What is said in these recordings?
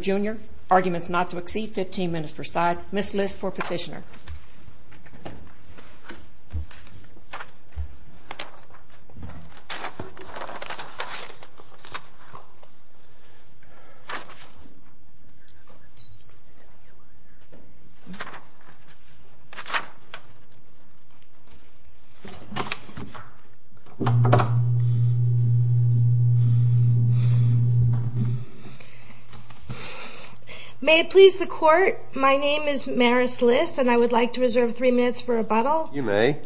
Jr., arguments not to exceed 15 minutes per side. Missed list for petitioner. May it please the court, my name is Maris Liss and I would like to reserve three minutes for rebuttal. You may.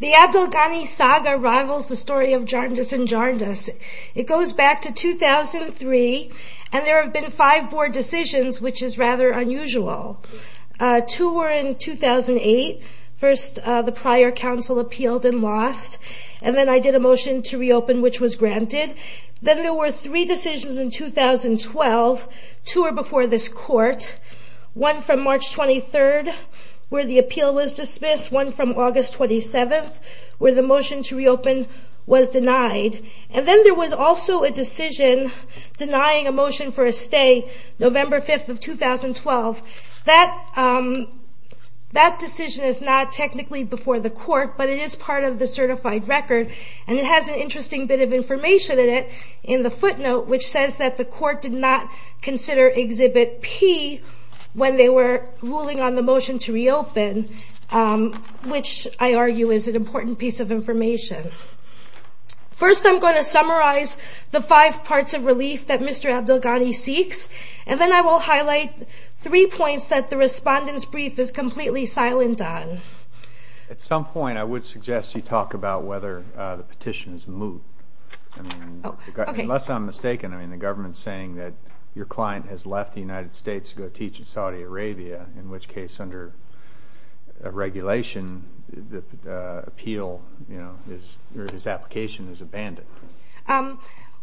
The Abdelghani saga rivals the story of Jarndus and Jarndus. It goes back to 2003 and there have been five board decisions which is rather unusual. Two were in 2008. First the prior council appealed and lost. And then I did a motion to reopen which was granted. Then there were three decisions in 2012. Two were before this court. One from March 23rd where the appeal was dismissed. One from August 27th where the motion to reopen was denied. And then there was also a decision denying a motion for a stay November 5th of 2012. That decision is not technically before the court but it is part of the certified record and it has an interesting bit of information in it in the footnote which says that the court did not consider Exhibit P when they were ruling on the motion to reopen which I argue is an important piece of information. First I'm going to summarize the five parts of relief that Mr. Abdelghani seeks and then I will highlight three points that the respondent's brief is completely silent on. At some point I would suggest you talk about whether the petition is moot. Unless I'm mistaken the government is saying that your client has left the United States to go teach in Saudi Arabia in which case under regulation his application is abandoned.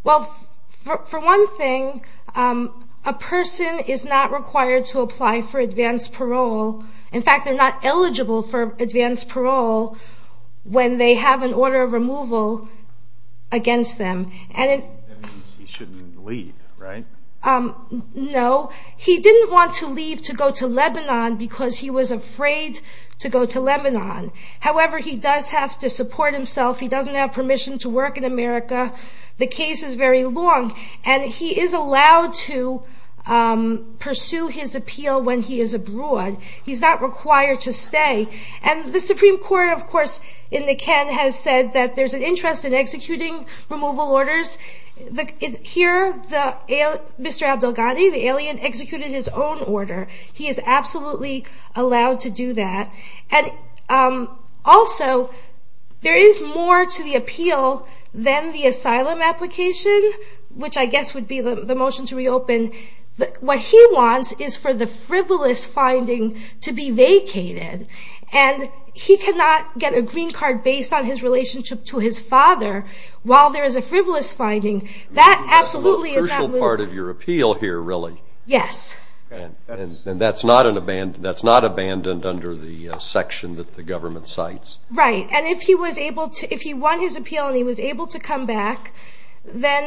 Well for one thing a person is not required to apply for advanced parole. In fact they're not eligible for advanced parole when they have an order of removal against them. That means he shouldn't leave right? No. He didn't want to leave to go to Lebanon because he was afraid to go to Lebanon. However he does have to support himself. He doesn't have permission to work in America. The case is very long and he is allowed to pursue his appeal when he is abroad. He's not required to stay and the Supreme Court of course in the Ken has said that there's an interest in executing removal orders. Here Mr. Abdelghani the alien executed his own order. He is absolutely allowed to do that. Also there is more to the appeal than the asylum application which I guess would be the motion to reopen. What he wants is for the frivolous finding to be vacated and he cannot get a green card based on his relationship to his father while there is a frivolous finding. That's a crucial part of your appeal here really. Yes. And that's not abandoned under the section that the government cites. Right and if he won his appeal and he was able to come back then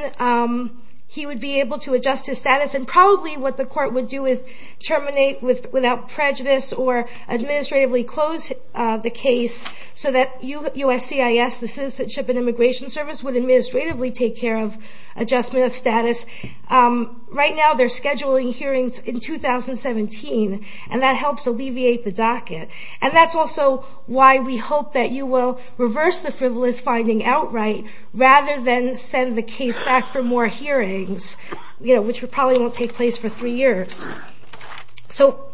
he would be able to adjust his status and probably what the court would do is terminate without prejudice or administratively close the case so that USCIS, the Citizenship and Immigration Service would administratively take care of the case. Adjustment of status. Right now they're scheduling hearings in 2017 and that helps alleviate the docket and that's also why we hope that you will reverse the frivolous finding outright rather than send the case back for more hearings which probably won't take place for three years. So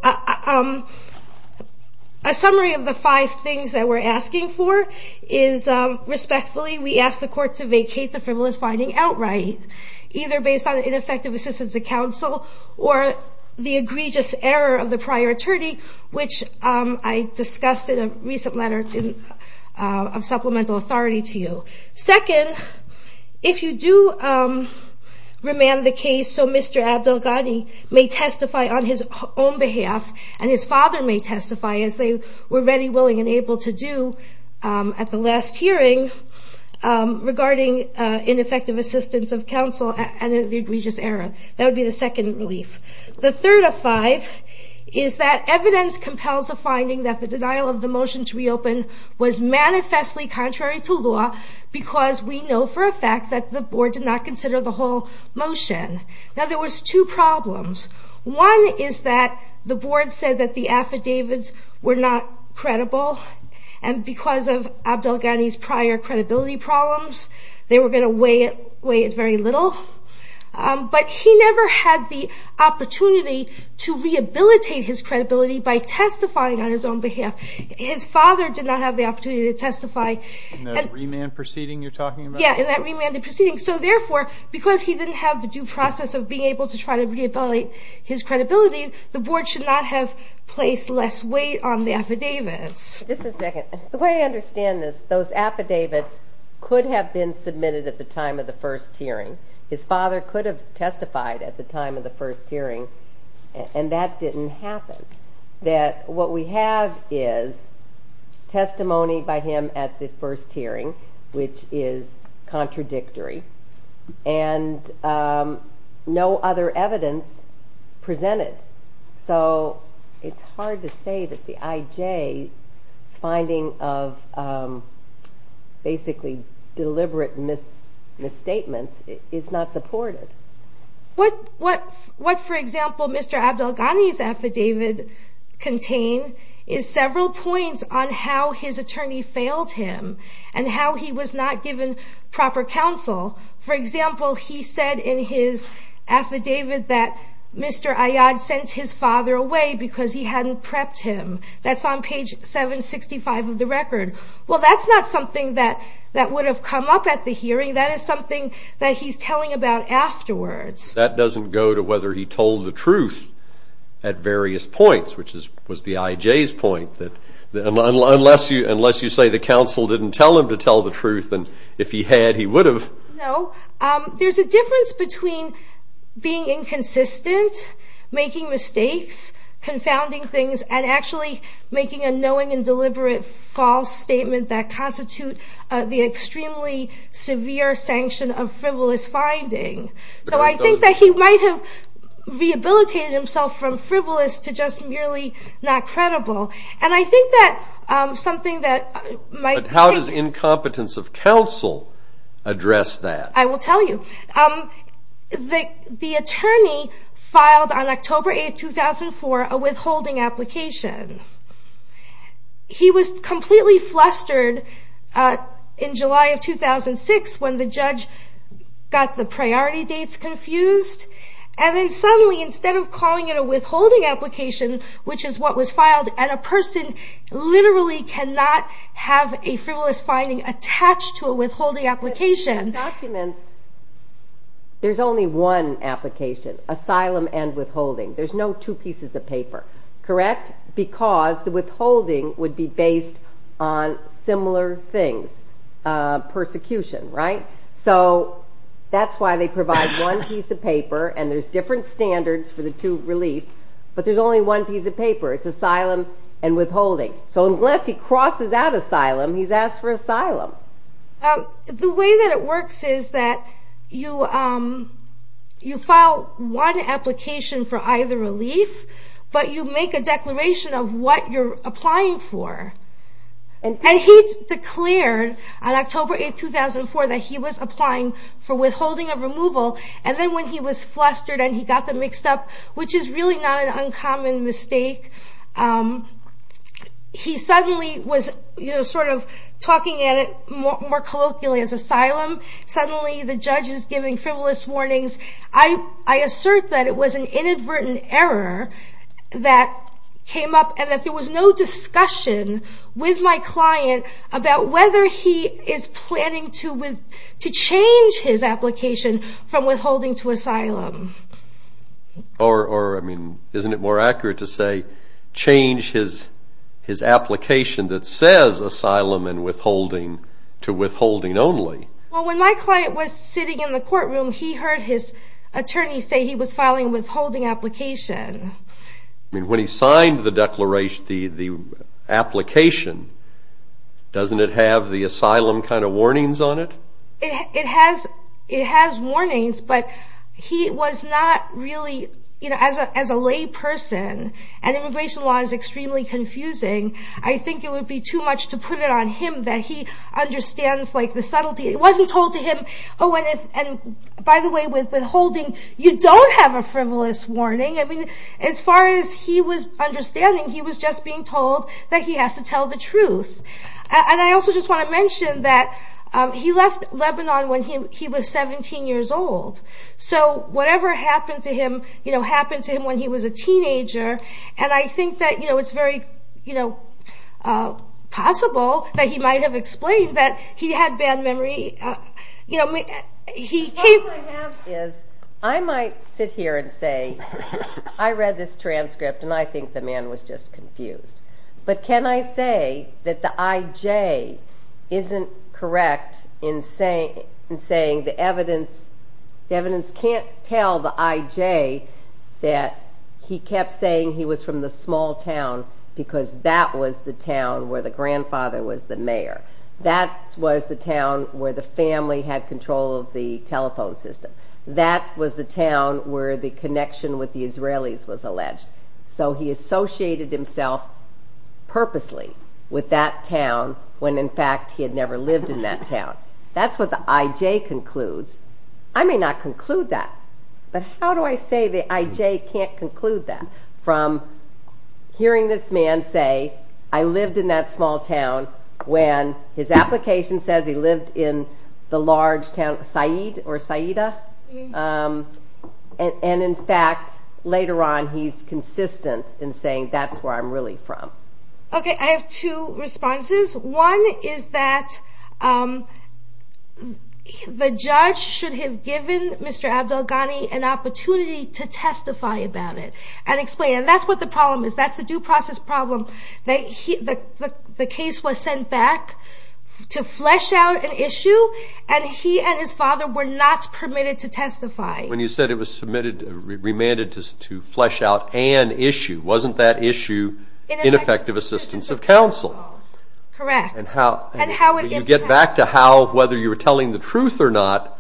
a summary of the five things that we're asking for is respectfully we ask the court to vacate the frivolous finding outright either based on ineffective assistance of counsel or the egregious error of the prior attorney which I discussed in a recent letter of supplemental authority to you. Second, if you do remand the case so Mr. Abdel Ghani may testify on his own behalf and his father may testify as they were ready, willing and able to do at the last hearing regarding ineffective assistance of counsel and the egregious error. That would be the second relief. The third of five is that evidence compels a finding that the denial of the motion to reopen was manifestly contrary to law because we know for a fact that the board did not consider the whole motion. Now there was two problems. One is that the board said that the affidavits were not credible and because of Abdel Ghani's prior credibility problems they were going to weigh it very little. But he never had the opportunity to rehabilitate his credibility by testifying on his own behalf. His father did not have the opportunity to testify. In that remand proceeding you're talking about? Yeah, in that remanded proceeding. So therefore because he didn't have the due process of being able to try to rehabilitate his credibility the board should not have placed less weight on the affidavits. Just a second. The way I understand this, those affidavits could have been submitted at the time of the first hearing. His father could have testified at the time of the first hearing and that didn't happen. What we have is testimony by him at the first hearing which is contradictory and no other evidence presented. So it's hard to say that the IJ's finding of basically deliberate misstatements is not supported. What, for example, Mr. Abdel Ghani's affidavit contain is several points on how his attorney failed him and how he was not given proper counsel. For example, he said in his affidavit that Mr. Ayad sent his father away because he hadn't prepped him. That's on page 765 of the record. Well, that's not something that would have come up at the hearing. That is something that he's telling about afterwards. That doesn't go to whether he told the truth at various points, which was the IJ's point. Unless you say the counsel didn't tell him to tell the truth, then if he had he would have. No. There's a difference between being inconsistent, making mistakes, confounding things, and actually making a knowing and deliberate false statement that constitute the extremely severe sanction of frivolous finding. So I think that he might have rehabilitated himself from frivolous to just merely not credible. But how does incompetence of counsel address that? I will tell you. The attorney filed on October 8, 2004, a withholding application. He was completely flustered in July of 2006 when the judge got the priority dates confused. And then suddenly, instead of calling it a withholding application, which is what was filed, and a person literally cannot have a frivolous finding attached to a withholding application. There's only one application. Asylum and withholding. There's no two pieces of paper. Correct? Because the withholding would be based on similar things. Persecution, right? So that's why they provide one piece of paper and there's different standards for the two relief, but there's only one piece of paper. It's asylum and withholding. So unless he crosses out asylum, he's asked for asylum. The way that it works is that you file one application for either relief, but you make a declaration of what you're applying for. And he declared on October 8, 2004, that he was applying for withholding of removal. And then when he was flustered and he got them mixed up, which is really not an uncommon mistake, he suddenly was sort of talking at it more colloquially as asylum. Suddenly the judge is giving frivolous warnings. I assert that it was an inadvertent error that came up and that there was no discussion with my client about whether he is planning to change his application from withholding to asylum. Or, I mean, isn't it more accurate to say change his application that says asylum and withholding to withholding only? Well, when my client was sitting in the courtroom, he heard his attorney say he was filing a withholding application. I mean, when he signed the application, doesn't it have the asylum kind of warnings on it? It has warnings, but he was not really, you know, as a lay person, and immigration law is extremely confusing, I think it would be too much to put it on him that he understands the subtlety. It wasn't told to him, oh, and by the way, with withholding, you don't have a frivolous warning. I mean, as far as he was understanding, he was just being told that he has to tell the truth. And I also just want to mention that he left Lebanon when he was 17 years old. So whatever happened to him, you know, happened to him when he was a teenager. And I think that, you know, it's very, you know, possible that he might have explained that he had bad memory. What I have is, I might sit here and say, I read this transcript and I think the man was just confused. But can I say that the IJ isn't correct in saying the evidence can't tell the IJ that he kept saying he was from the small town because that was the town where the grandfather was the mayor. That was the town where the family had control of the telephone system. That was the town where the connection with the Israelis was alleged. So he associated himself purposely with that town when, in fact, he had never lived in that town. That's what the IJ concludes. I may not conclude that. But how do I say the IJ can't conclude that from hearing this man say, I lived in that small town when his application says he lived in the large town of Said or Saida. And, in fact, later on he's consistent in saying that's where I'm really from. Okay, I have two responses. One is that the judge should have given Mr. Abdelghani an opportunity to testify about it and explain it. And that's what the problem is. That's the due process problem that the case was sent back to flesh out an issue and he and his father were not permitted to testify. When you said it was remanded to flesh out an issue, wasn't that issue ineffective assistance of counsel? Correct. And how would you get back to how whether you were telling the truth or not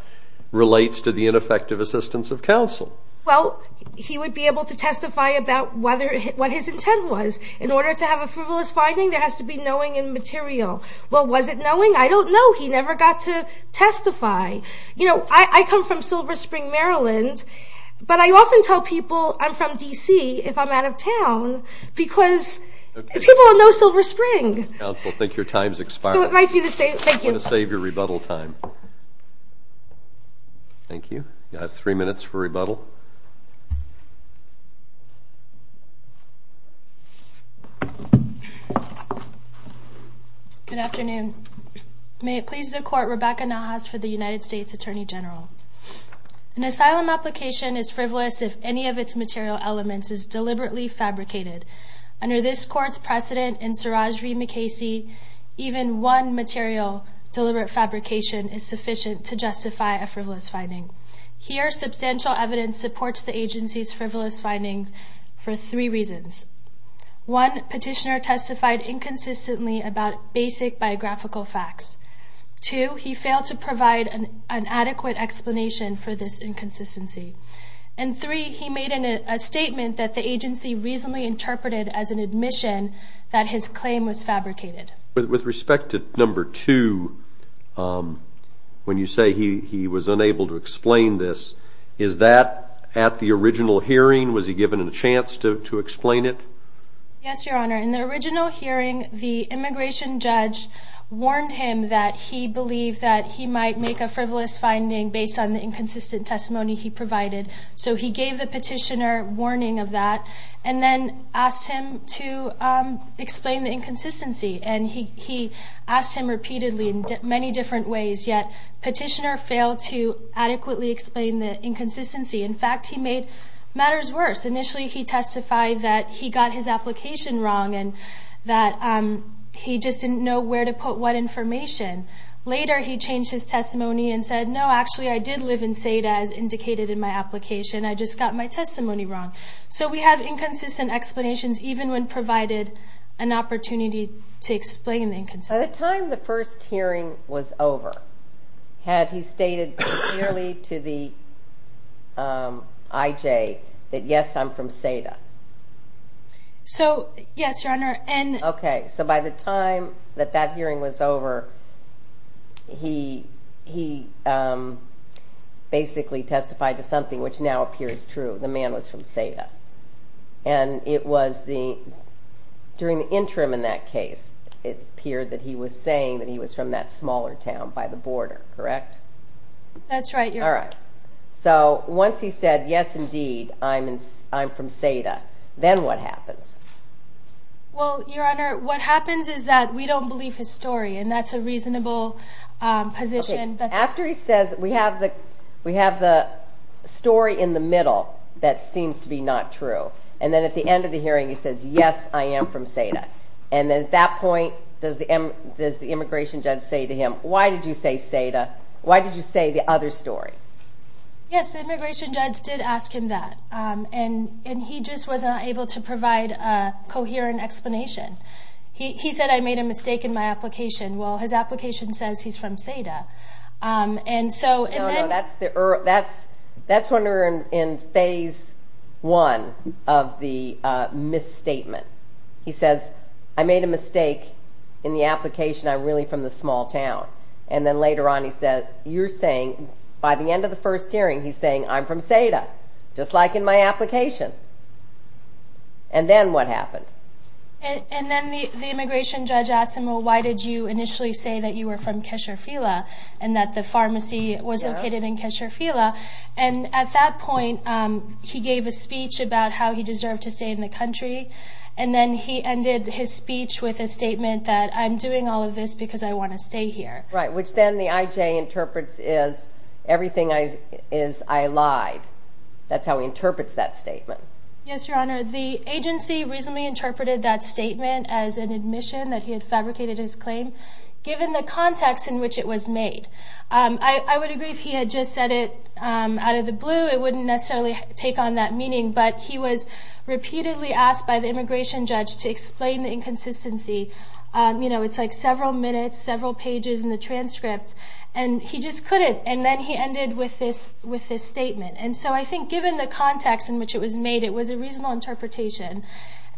relates to the ineffective assistance of counsel? Well, he would be able to testify about what his intent was. In order to have a frivolous finding there has to be knowing and material. Well, was it knowing? I don't know. He never got to testify. You know, I come from Silver Spring, Maryland, but I often tell people I'm from D.C. if I'm out of town because people know Silver Spring. Counsel, I think your time's expired. So it might be the same. Thank you. I'm going to save your rebuttal time. Thank you. You have three minutes for rebuttal. Good afternoon. May it please the Court, Rebecca Nahas for the United States Attorney General. An asylum application is frivolous if any of its material elements is deliberately fabricated. Under this Court's precedent in Siraj v. McKaysey, even one material deliberate fabrication is sufficient to justify a frivolous finding. Here, substantial evidence supports the agency's frivolous findings for three reasons. One, Petitioner testified inconsistently about basic biographical facts. Two, he failed to provide an adequate explanation for this inconsistency. And three, he made a statement that the agency reasonably interpreted as an admission that his claim was fabricated. With respect to number two, when you say he was unable to explain this, is that at the original hearing? Was he given a chance to explain it? Yes, Your Honor. In the original hearing, the immigration judge warned him that he believed that he might make a frivolous finding based on the inconsistent testimony he provided. So he gave the Petitioner warning of that and then asked him to explain the inconsistency. And he asked him repeatedly in many different ways, yet Petitioner failed to adequately explain the inconsistency. In fact, he made matters worse. Initially, he testified that he got his application wrong and that he just didn't know where to put what information. Later, he changed his testimony and said, no, actually, I did live in Seda, as indicated in my application. I just got my testimony wrong. So we have inconsistent explanations, even when provided an opportunity to explain the inconsistency. By the time the first hearing was over, had he stated clearly to the IJ that, yes, I'm from Seda? So, yes, Your Honor. Okay, so by the time that that hearing was over, he basically testified to something which now appears true. The man was from Seda. And it was during the interim in that case, it appeared that he was saying that he was from that smaller town by the border, correct? That's right, Your Honor. All right. So once he said, yes, indeed, I'm from Seda, then what happens? Well, Your Honor, what happens is that we don't believe his story, and that's a reasonable position. After he says, we have the story in the middle that seems to be not true, and then at the end of the hearing he says, yes, I am from Seda. And at that point, does the immigration judge say to him, why did you say Seda? Why did you say the other story? Yes, the immigration judge did ask him that, and he just was not able to provide a coherent explanation. He said, I made a mistake in my application. Well, his application says he's from Seda. No, no, that's when we're in phase one of the misstatement. He says, I made a mistake in the application, I'm really from this small town. And then later on he says, you're saying, by the end of the first hearing he's saying, I'm from Seda, just like in my application. And then what happened? And then the immigration judge asked him, well, why did you initially say that you were from Kesher Fila, and that the pharmacy was located in Kesher Fila? And at that point, he gave a speech about how he deserved to stay in the country, and then he ended his speech with a statement that, I'm doing all of this because I want to stay here. Right, which then the IJ interprets as, everything is, I lied. That's how he interprets that statement. Yes, Your Honor, the agency reasonably interpreted that statement as an admission that he had fabricated his claim, given the context in which it was made. I would agree if he had just said it out of the blue, it wouldn't necessarily take on that meaning, but he was repeatedly asked by the immigration judge to explain the inconsistency. You know, it's like several minutes, several pages in the transcript, and he just couldn't, and then he ended with this statement. And so I think given the context in which it was made, it was a reasonable interpretation.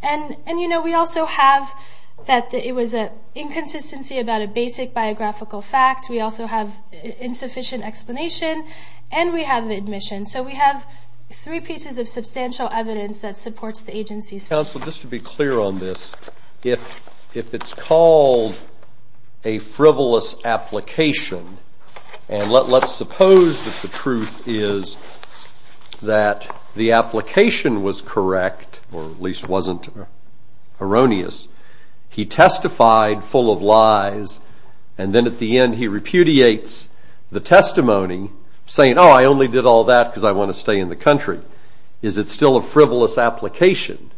And, you know, we also have that it was an inconsistency about a basic biographical fact. We also have insufficient explanation, and we have the admission. So we have three pieces of substantial evidence that supports the agency's claim. Counsel, just to be clear on this, if it's called a frivolous application, and let's suppose that the truth is that the application was correct, or at least wasn't erroneous. He testified full of lies, and then at the end he repudiates the testimony, saying, oh, I only did all that because I want to stay in the country. Is it still a frivolous application?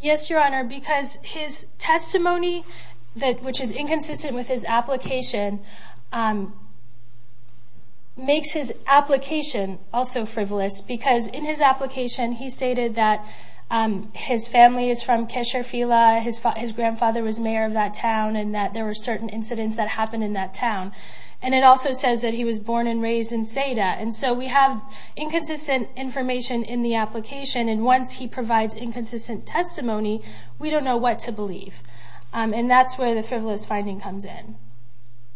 Yes, Your Honor, because his testimony, which is inconsistent with his application, makes his application also frivolous. Because in his application he stated that his family is from Keshavela, his grandfather was mayor of that town, and that there were certain incidents that happened in that town. And it also says that he was born and raised in Seda. And so we have inconsistent information in the application, and once he provides inconsistent testimony, we don't know what to believe. And that's where the frivolous finding comes in.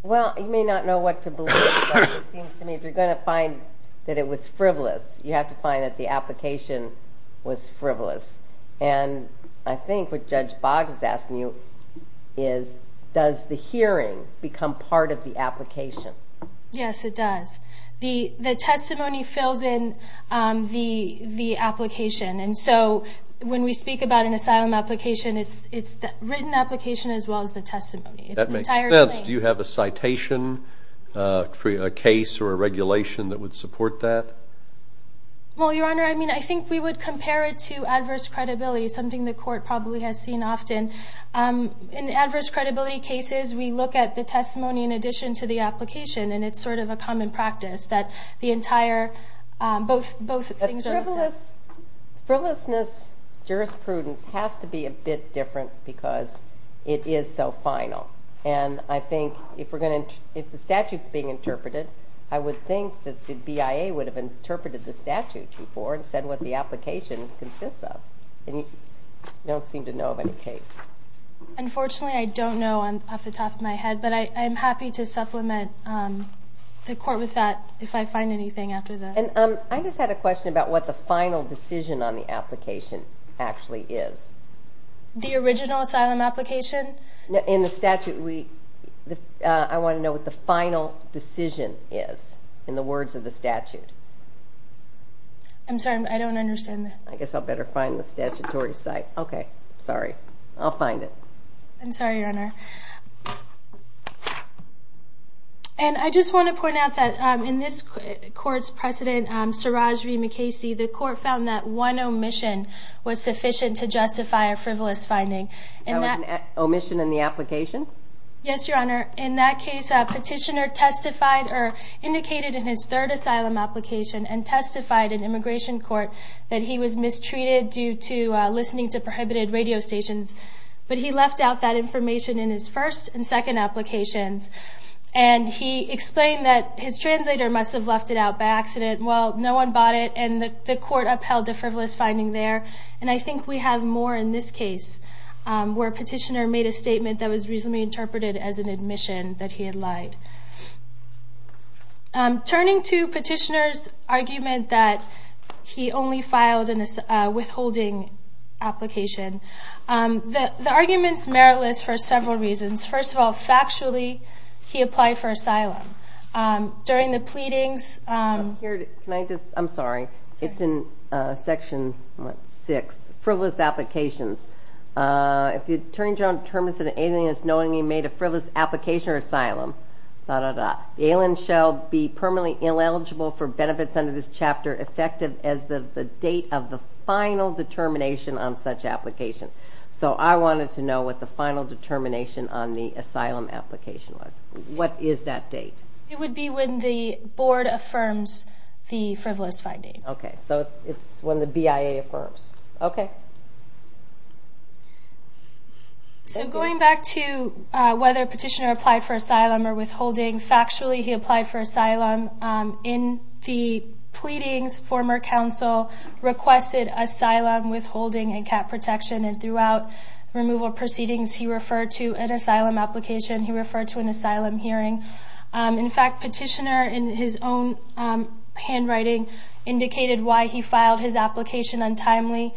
Well, you may not know what to believe, but it seems to me if you're going to find that it was frivolous, you have to find that the application was frivolous. And I think what Judge Boggs is asking you is, does the hearing become part of the application? Yes, it does. The testimony fills in the application. And so when we speak about an asylum application, it's the written application as well as the testimony. That makes sense. Do you have a citation, a case, or a regulation that would support that? Well, Your Honor, I mean, I think we would compare it to adverse credibility, something the court probably has seen often. In adverse credibility cases, we look at the testimony in addition to the application, and it's sort of a common practice that the entire, both things are looked at. Frivolousness, jurisprudence has to be a bit different because it is so final. And I think if the statute is being interpreted, I would think that the BIA would have interpreted the statute before and said what the application consists of. And you don't seem to know of any case. Unfortunately, I don't know off the top of my head, but I'm happy to supplement the court with that if I find anything after this. And I just had a question about what the final decision on the application actually is. The original asylum application? In the statute, I want to know what the final decision is in the words of the statute. I'm sorry, I don't understand that. I guess I'll better find the statutory site. Okay, sorry, I'll find it. I'm sorry, Your Honor. And I just want to point out that in this court's precedent, Siraj V. McKaysey, the court found that one omission was sufficient to justify a frivolous finding. That was an omission in the application? Yes, Your Honor. In that case, a petitioner testified or indicated in his third asylum application and testified in immigration court that he was mistreated due to listening to prohibited radio stations. But he left out that information in his first and second applications. And he explained that his translator must have left it out by accident. Well, no one bought it, and the court upheld the frivolous finding there. And I think we have more in this case where a petitioner made a statement that was reasonably interpreted as an admission that he had lied. Turning to petitioner's argument that he only filed a withholding application, the argument's meritless for several reasons. First of all, factually, he applied for asylum. During the pleadings... I'm sorry, it's in Section 6, frivolous applications. If the attorney general determines that an alien is knowingly made a frivolous application or asylum, da-da-da, the alien shall be permanently ineligible for benefits under this chapter effective as the date of the final determination on such application. So I wanted to know what the final determination on the asylum application was. What is that date? It would be when the board affirms the frivolous finding. Okay, so it's when the BIA affirms. Okay. So going back to whether petitioner applied for asylum or withholding, factually he applied for asylum. In the pleadings, former counsel requested asylum, withholding, and cap protection. And throughout removal proceedings, he referred to an asylum application. He referred to an asylum hearing. In fact, petitioner in his own handwriting indicated why he filed his application untimely.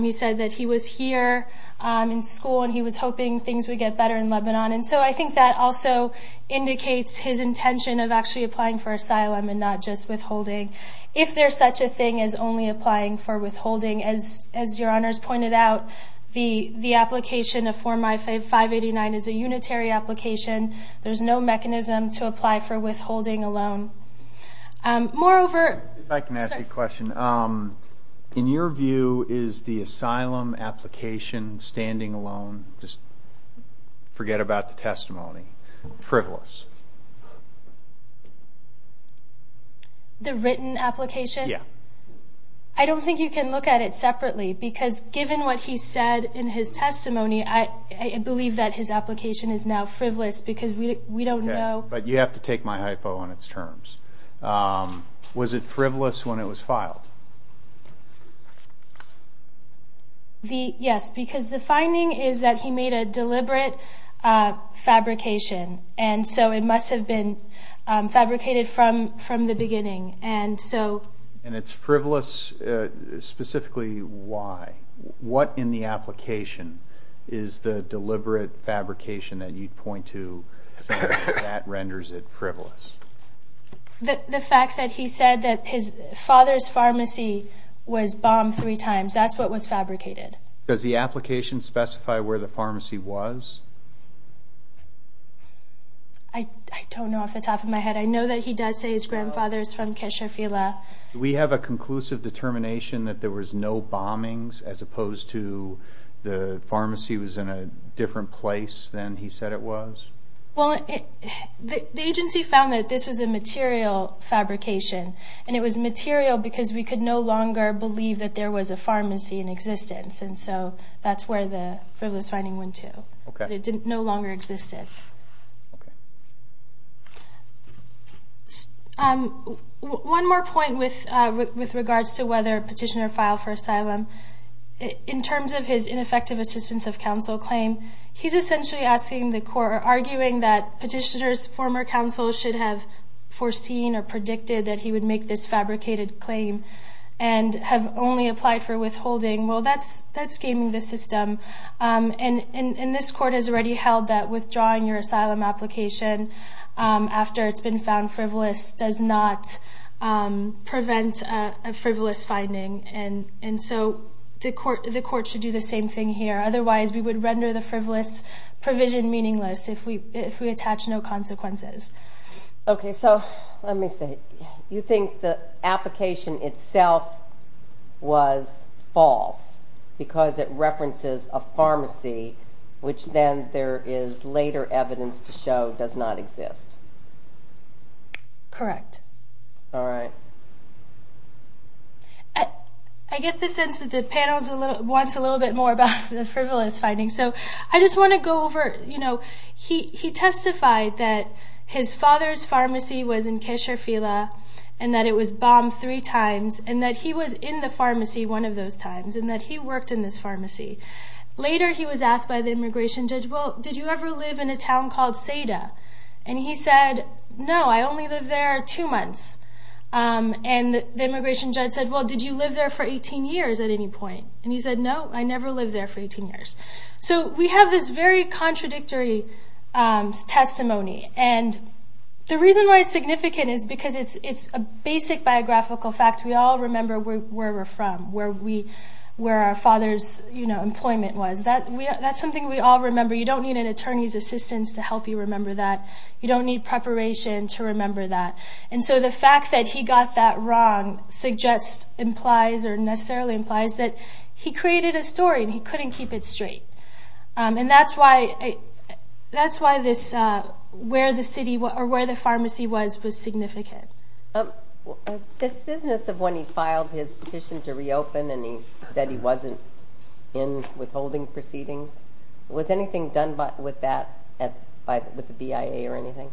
He said that he was here in school and he was hoping things would get better in Lebanon. And so I think that also indicates his intention of actually applying for asylum and not just withholding. If there's such a thing as only applying for withholding, as your honors pointed out, the application of Form I-589 is a unitary application. There's no mechanism to apply for withholding alone. Moreover, sorry. If I can ask you a question. In your view, is the asylum application standing alone? Just forget about the testimony. Frivolous. The written application? Yeah. I don't think you can look at it separately because given what he said in his testimony, I believe that his application is now frivolous because we don't know. But you have to take my hypo on its terms. Was it frivolous when it was filed? Yes, because the finding is that he made a deliberate fabrication. And so it must have been fabricated from the beginning. And it's frivolous specifically why? What in the application is the deliberate fabrication that you'd point to that renders it frivolous? The fact that he said that his father's pharmacy was bombed three times. That's what was fabricated. Does the application specify where the pharmacy was? I don't know off the top of my head. I know that he does say his grandfather is from Keshefila. Do we have a conclusive determination that there was no bombings as opposed to the pharmacy was in a different place than he said it was? Well, the agency found that this was a material fabrication. And it was material because we could no longer believe that there was a pharmacy in existence. And so that's where the frivolous finding went to. It no longer existed. One more point with regards to whether a petitioner filed for asylum. In terms of his ineffective assistance of counsel claim, he's essentially arguing that petitioners, former counsels, should have foreseen or predicted that he would make this fabricated claim and have only applied for withholding. Well, that's gaming the system. And this court has already held that withdrawing your asylum application after it's been found frivolous does not prevent a frivolous finding. And so the court should do the same thing here. Otherwise, we would render the frivolous provision meaningless if we attach no consequences. Okay, so let me see. You think the application itself was false because it references a pharmacy, which then there is later evidence to show does not exist? Correct. All right. I get the sense that the panel wants a little bit more about the frivolous finding. So I just want to go over. He testified that his father's pharmacy was in Kesher Phila and that it was bombed three times and that he was in the pharmacy one of those times and that he worked in this pharmacy. Later he was asked by the immigration judge, well, did you ever live in a town called Seda? And he said, no, I only lived there two months. And the immigration judge said, well, did you live there for 18 years at any point? And he said, no, I never lived there for 18 years. So we have this very contradictory testimony. And the reason why it's significant is because it's a basic biographical fact. We all remember where we're from, where our father's employment was. That's something we all remember. You don't need an attorney's assistance to help you remember that. You don't need preparation to remember that. And so the fact that he got that wrong implies or necessarily implies that he created a story and he couldn't keep it straight. And that's why where the pharmacy was was significant. This business of when he filed his petition to reopen and he said he wasn't in withholding proceedings, was anything done with that by the BIA or anything?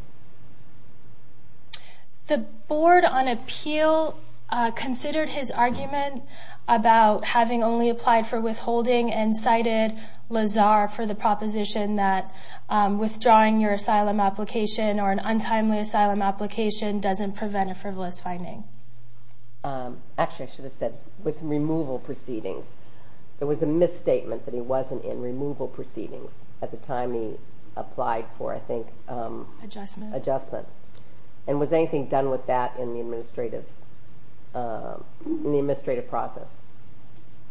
The board on appeal considered his argument about having only applied for withholding and cited Lazar for the proposition that withdrawing your asylum application or an untimely asylum application doesn't prevent a frivolous finding. Actually, I should have said with removal proceedings. There was a misstatement that he wasn't in removal proceedings at the time he applied for, I think. Adjustment. Adjustment. And was anything done with that in the administrative process?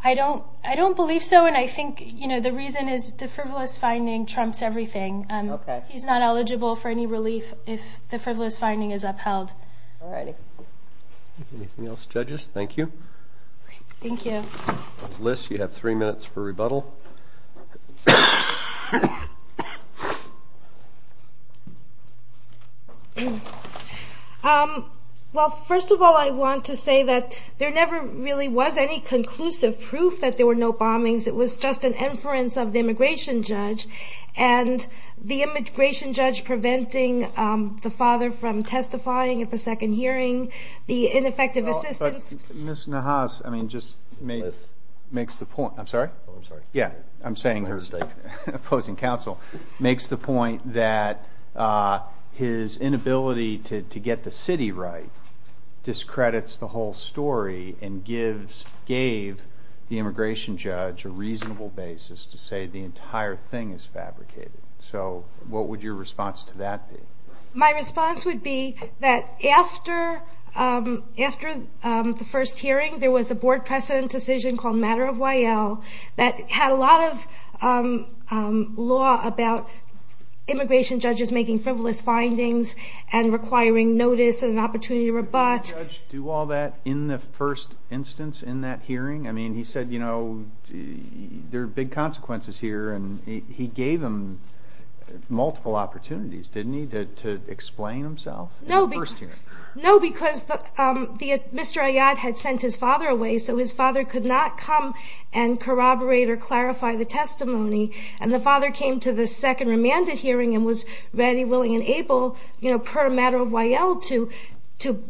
I don't believe so, and I think the reason is the frivolous finding trumps everything. Okay. He's not eligible for any relief if the frivolous finding is upheld. All right. Anything else, judges? Thank you. Thank you. Liz, you have three minutes for rebuttal. Well, first of all, I want to say that there never really was any conclusive proof that there were no bombings. It was just an inference of the immigration judge. And the immigration judge preventing the father from testifying at the second hearing, the ineffective assistance. Ms. Nahas, I mean, just makes the point. I'm sorry? Oh, I'm sorry. Yeah. I'm saying her mistake. Opposing counsel. Makes the point that his inability to get the city right discredits the whole story and gave the immigration judge a reasonable basis to say the entire thing is fabricated. So what would your response to that be? My response would be that after the first hearing, there was a board precedent decision called Matter of Y.L. that had a lot of law about immigration judges making frivolous findings and requiring notice and an opportunity to rebutt. Did the judge do all that in the first instance in that hearing? I mean, he said, you know, there are big consequences here. And he gave him multiple opportunities, didn't he, to explain himself in the first hearing? No, because Mr. Ayad had sent his father away, so his father could not come and corroborate or clarify the testimony. And the father came to the second remanded hearing and was ready, willing, and able per Matter of Y.L. to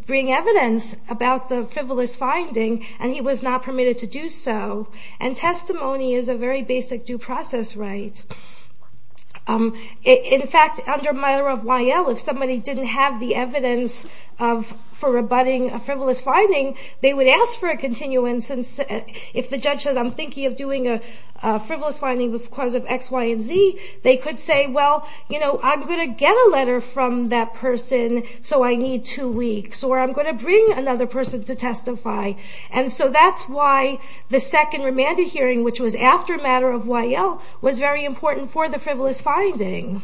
bring evidence about the frivolous finding, and he was not permitted to do so. And testimony is a very basic due process right. In fact, under Matter of Y.L., if somebody didn't have the evidence for rebutting a frivolous finding, they would ask for a continuance. If the judge says, I'm thinking of doing a frivolous finding because of X, Y, and Z, they could say, well, you know, I'm going to get a letter from that person, so I need two weeks, or I'm going to bring another person to testify. And so that's why the second remanded hearing, which was after Matter of Y.L., was very important for the frivolous finding.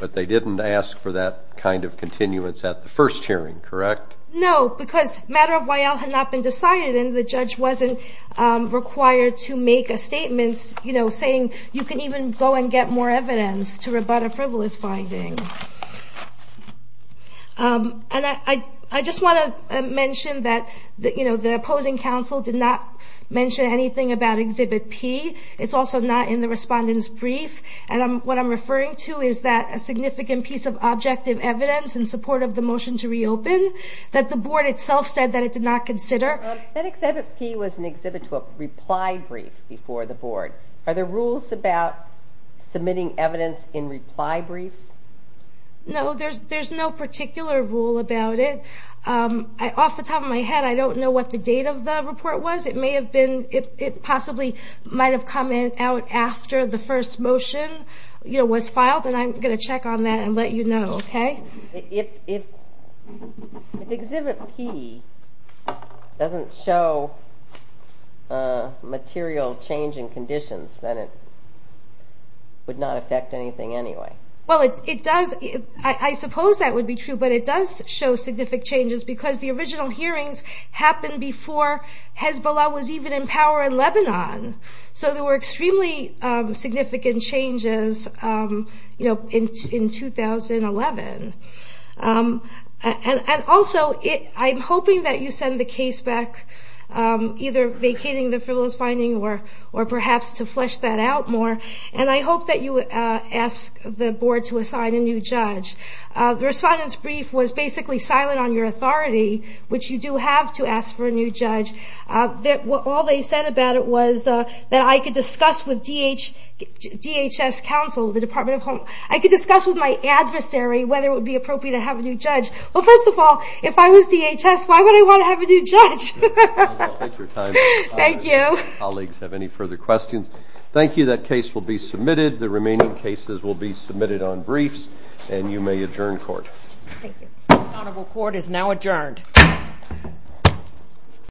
But they didn't ask for that kind of continuance at the first hearing, correct? No, because Matter of Y.L. had not been decided, and the judge wasn't required to make a statement, you know, saying you can even go and get more evidence to rebut a frivolous finding. And I just want to mention that, you know, the opposing counsel did not mention anything about Exhibit P. It's also not in the respondent's brief. And what I'm referring to is that a significant piece of objective evidence in support of the motion to reopen that the board itself said that it did not consider. That Exhibit P was an exhibit to a reply brief before the board. Are there rules about submitting evidence in reply briefs? No, there's no particular rule about it. Off the top of my head, I don't know what the date of the report was. It possibly might have come out after the first motion was filed, and I'm going to check on that and let you know, okay? If Exhibit P doesn't show material change in conditions, then it would not affect anything anyway. Well, I suppose that would be true, but it does show significant changes because the original hearings happened before Hezbollah was even in power in Lebanon. So there were extremely significant changes, you know, in 2011. And also I'm hoping that you send the case back either vacating the frivolous finding or perhaps to flesh that out more. And I hope that you ask the board to assign a new judge. The respondent's brief was basically silent on your authority, which you do have to ask for a new judge. All they said about it was that I could discuss with DHS counsel, the Department of Home, I could discuss with my adversary whether it would be appropriate to have a new judge. Well, first of all, if I was DHS, why would I want to have a new judge? Thank you. If colleagues have any further questions, thank you. That case will be submitted. The remaining cases will be submitted on briefs. And you may adjourn court. Thank you. The honorable court is now adjourned.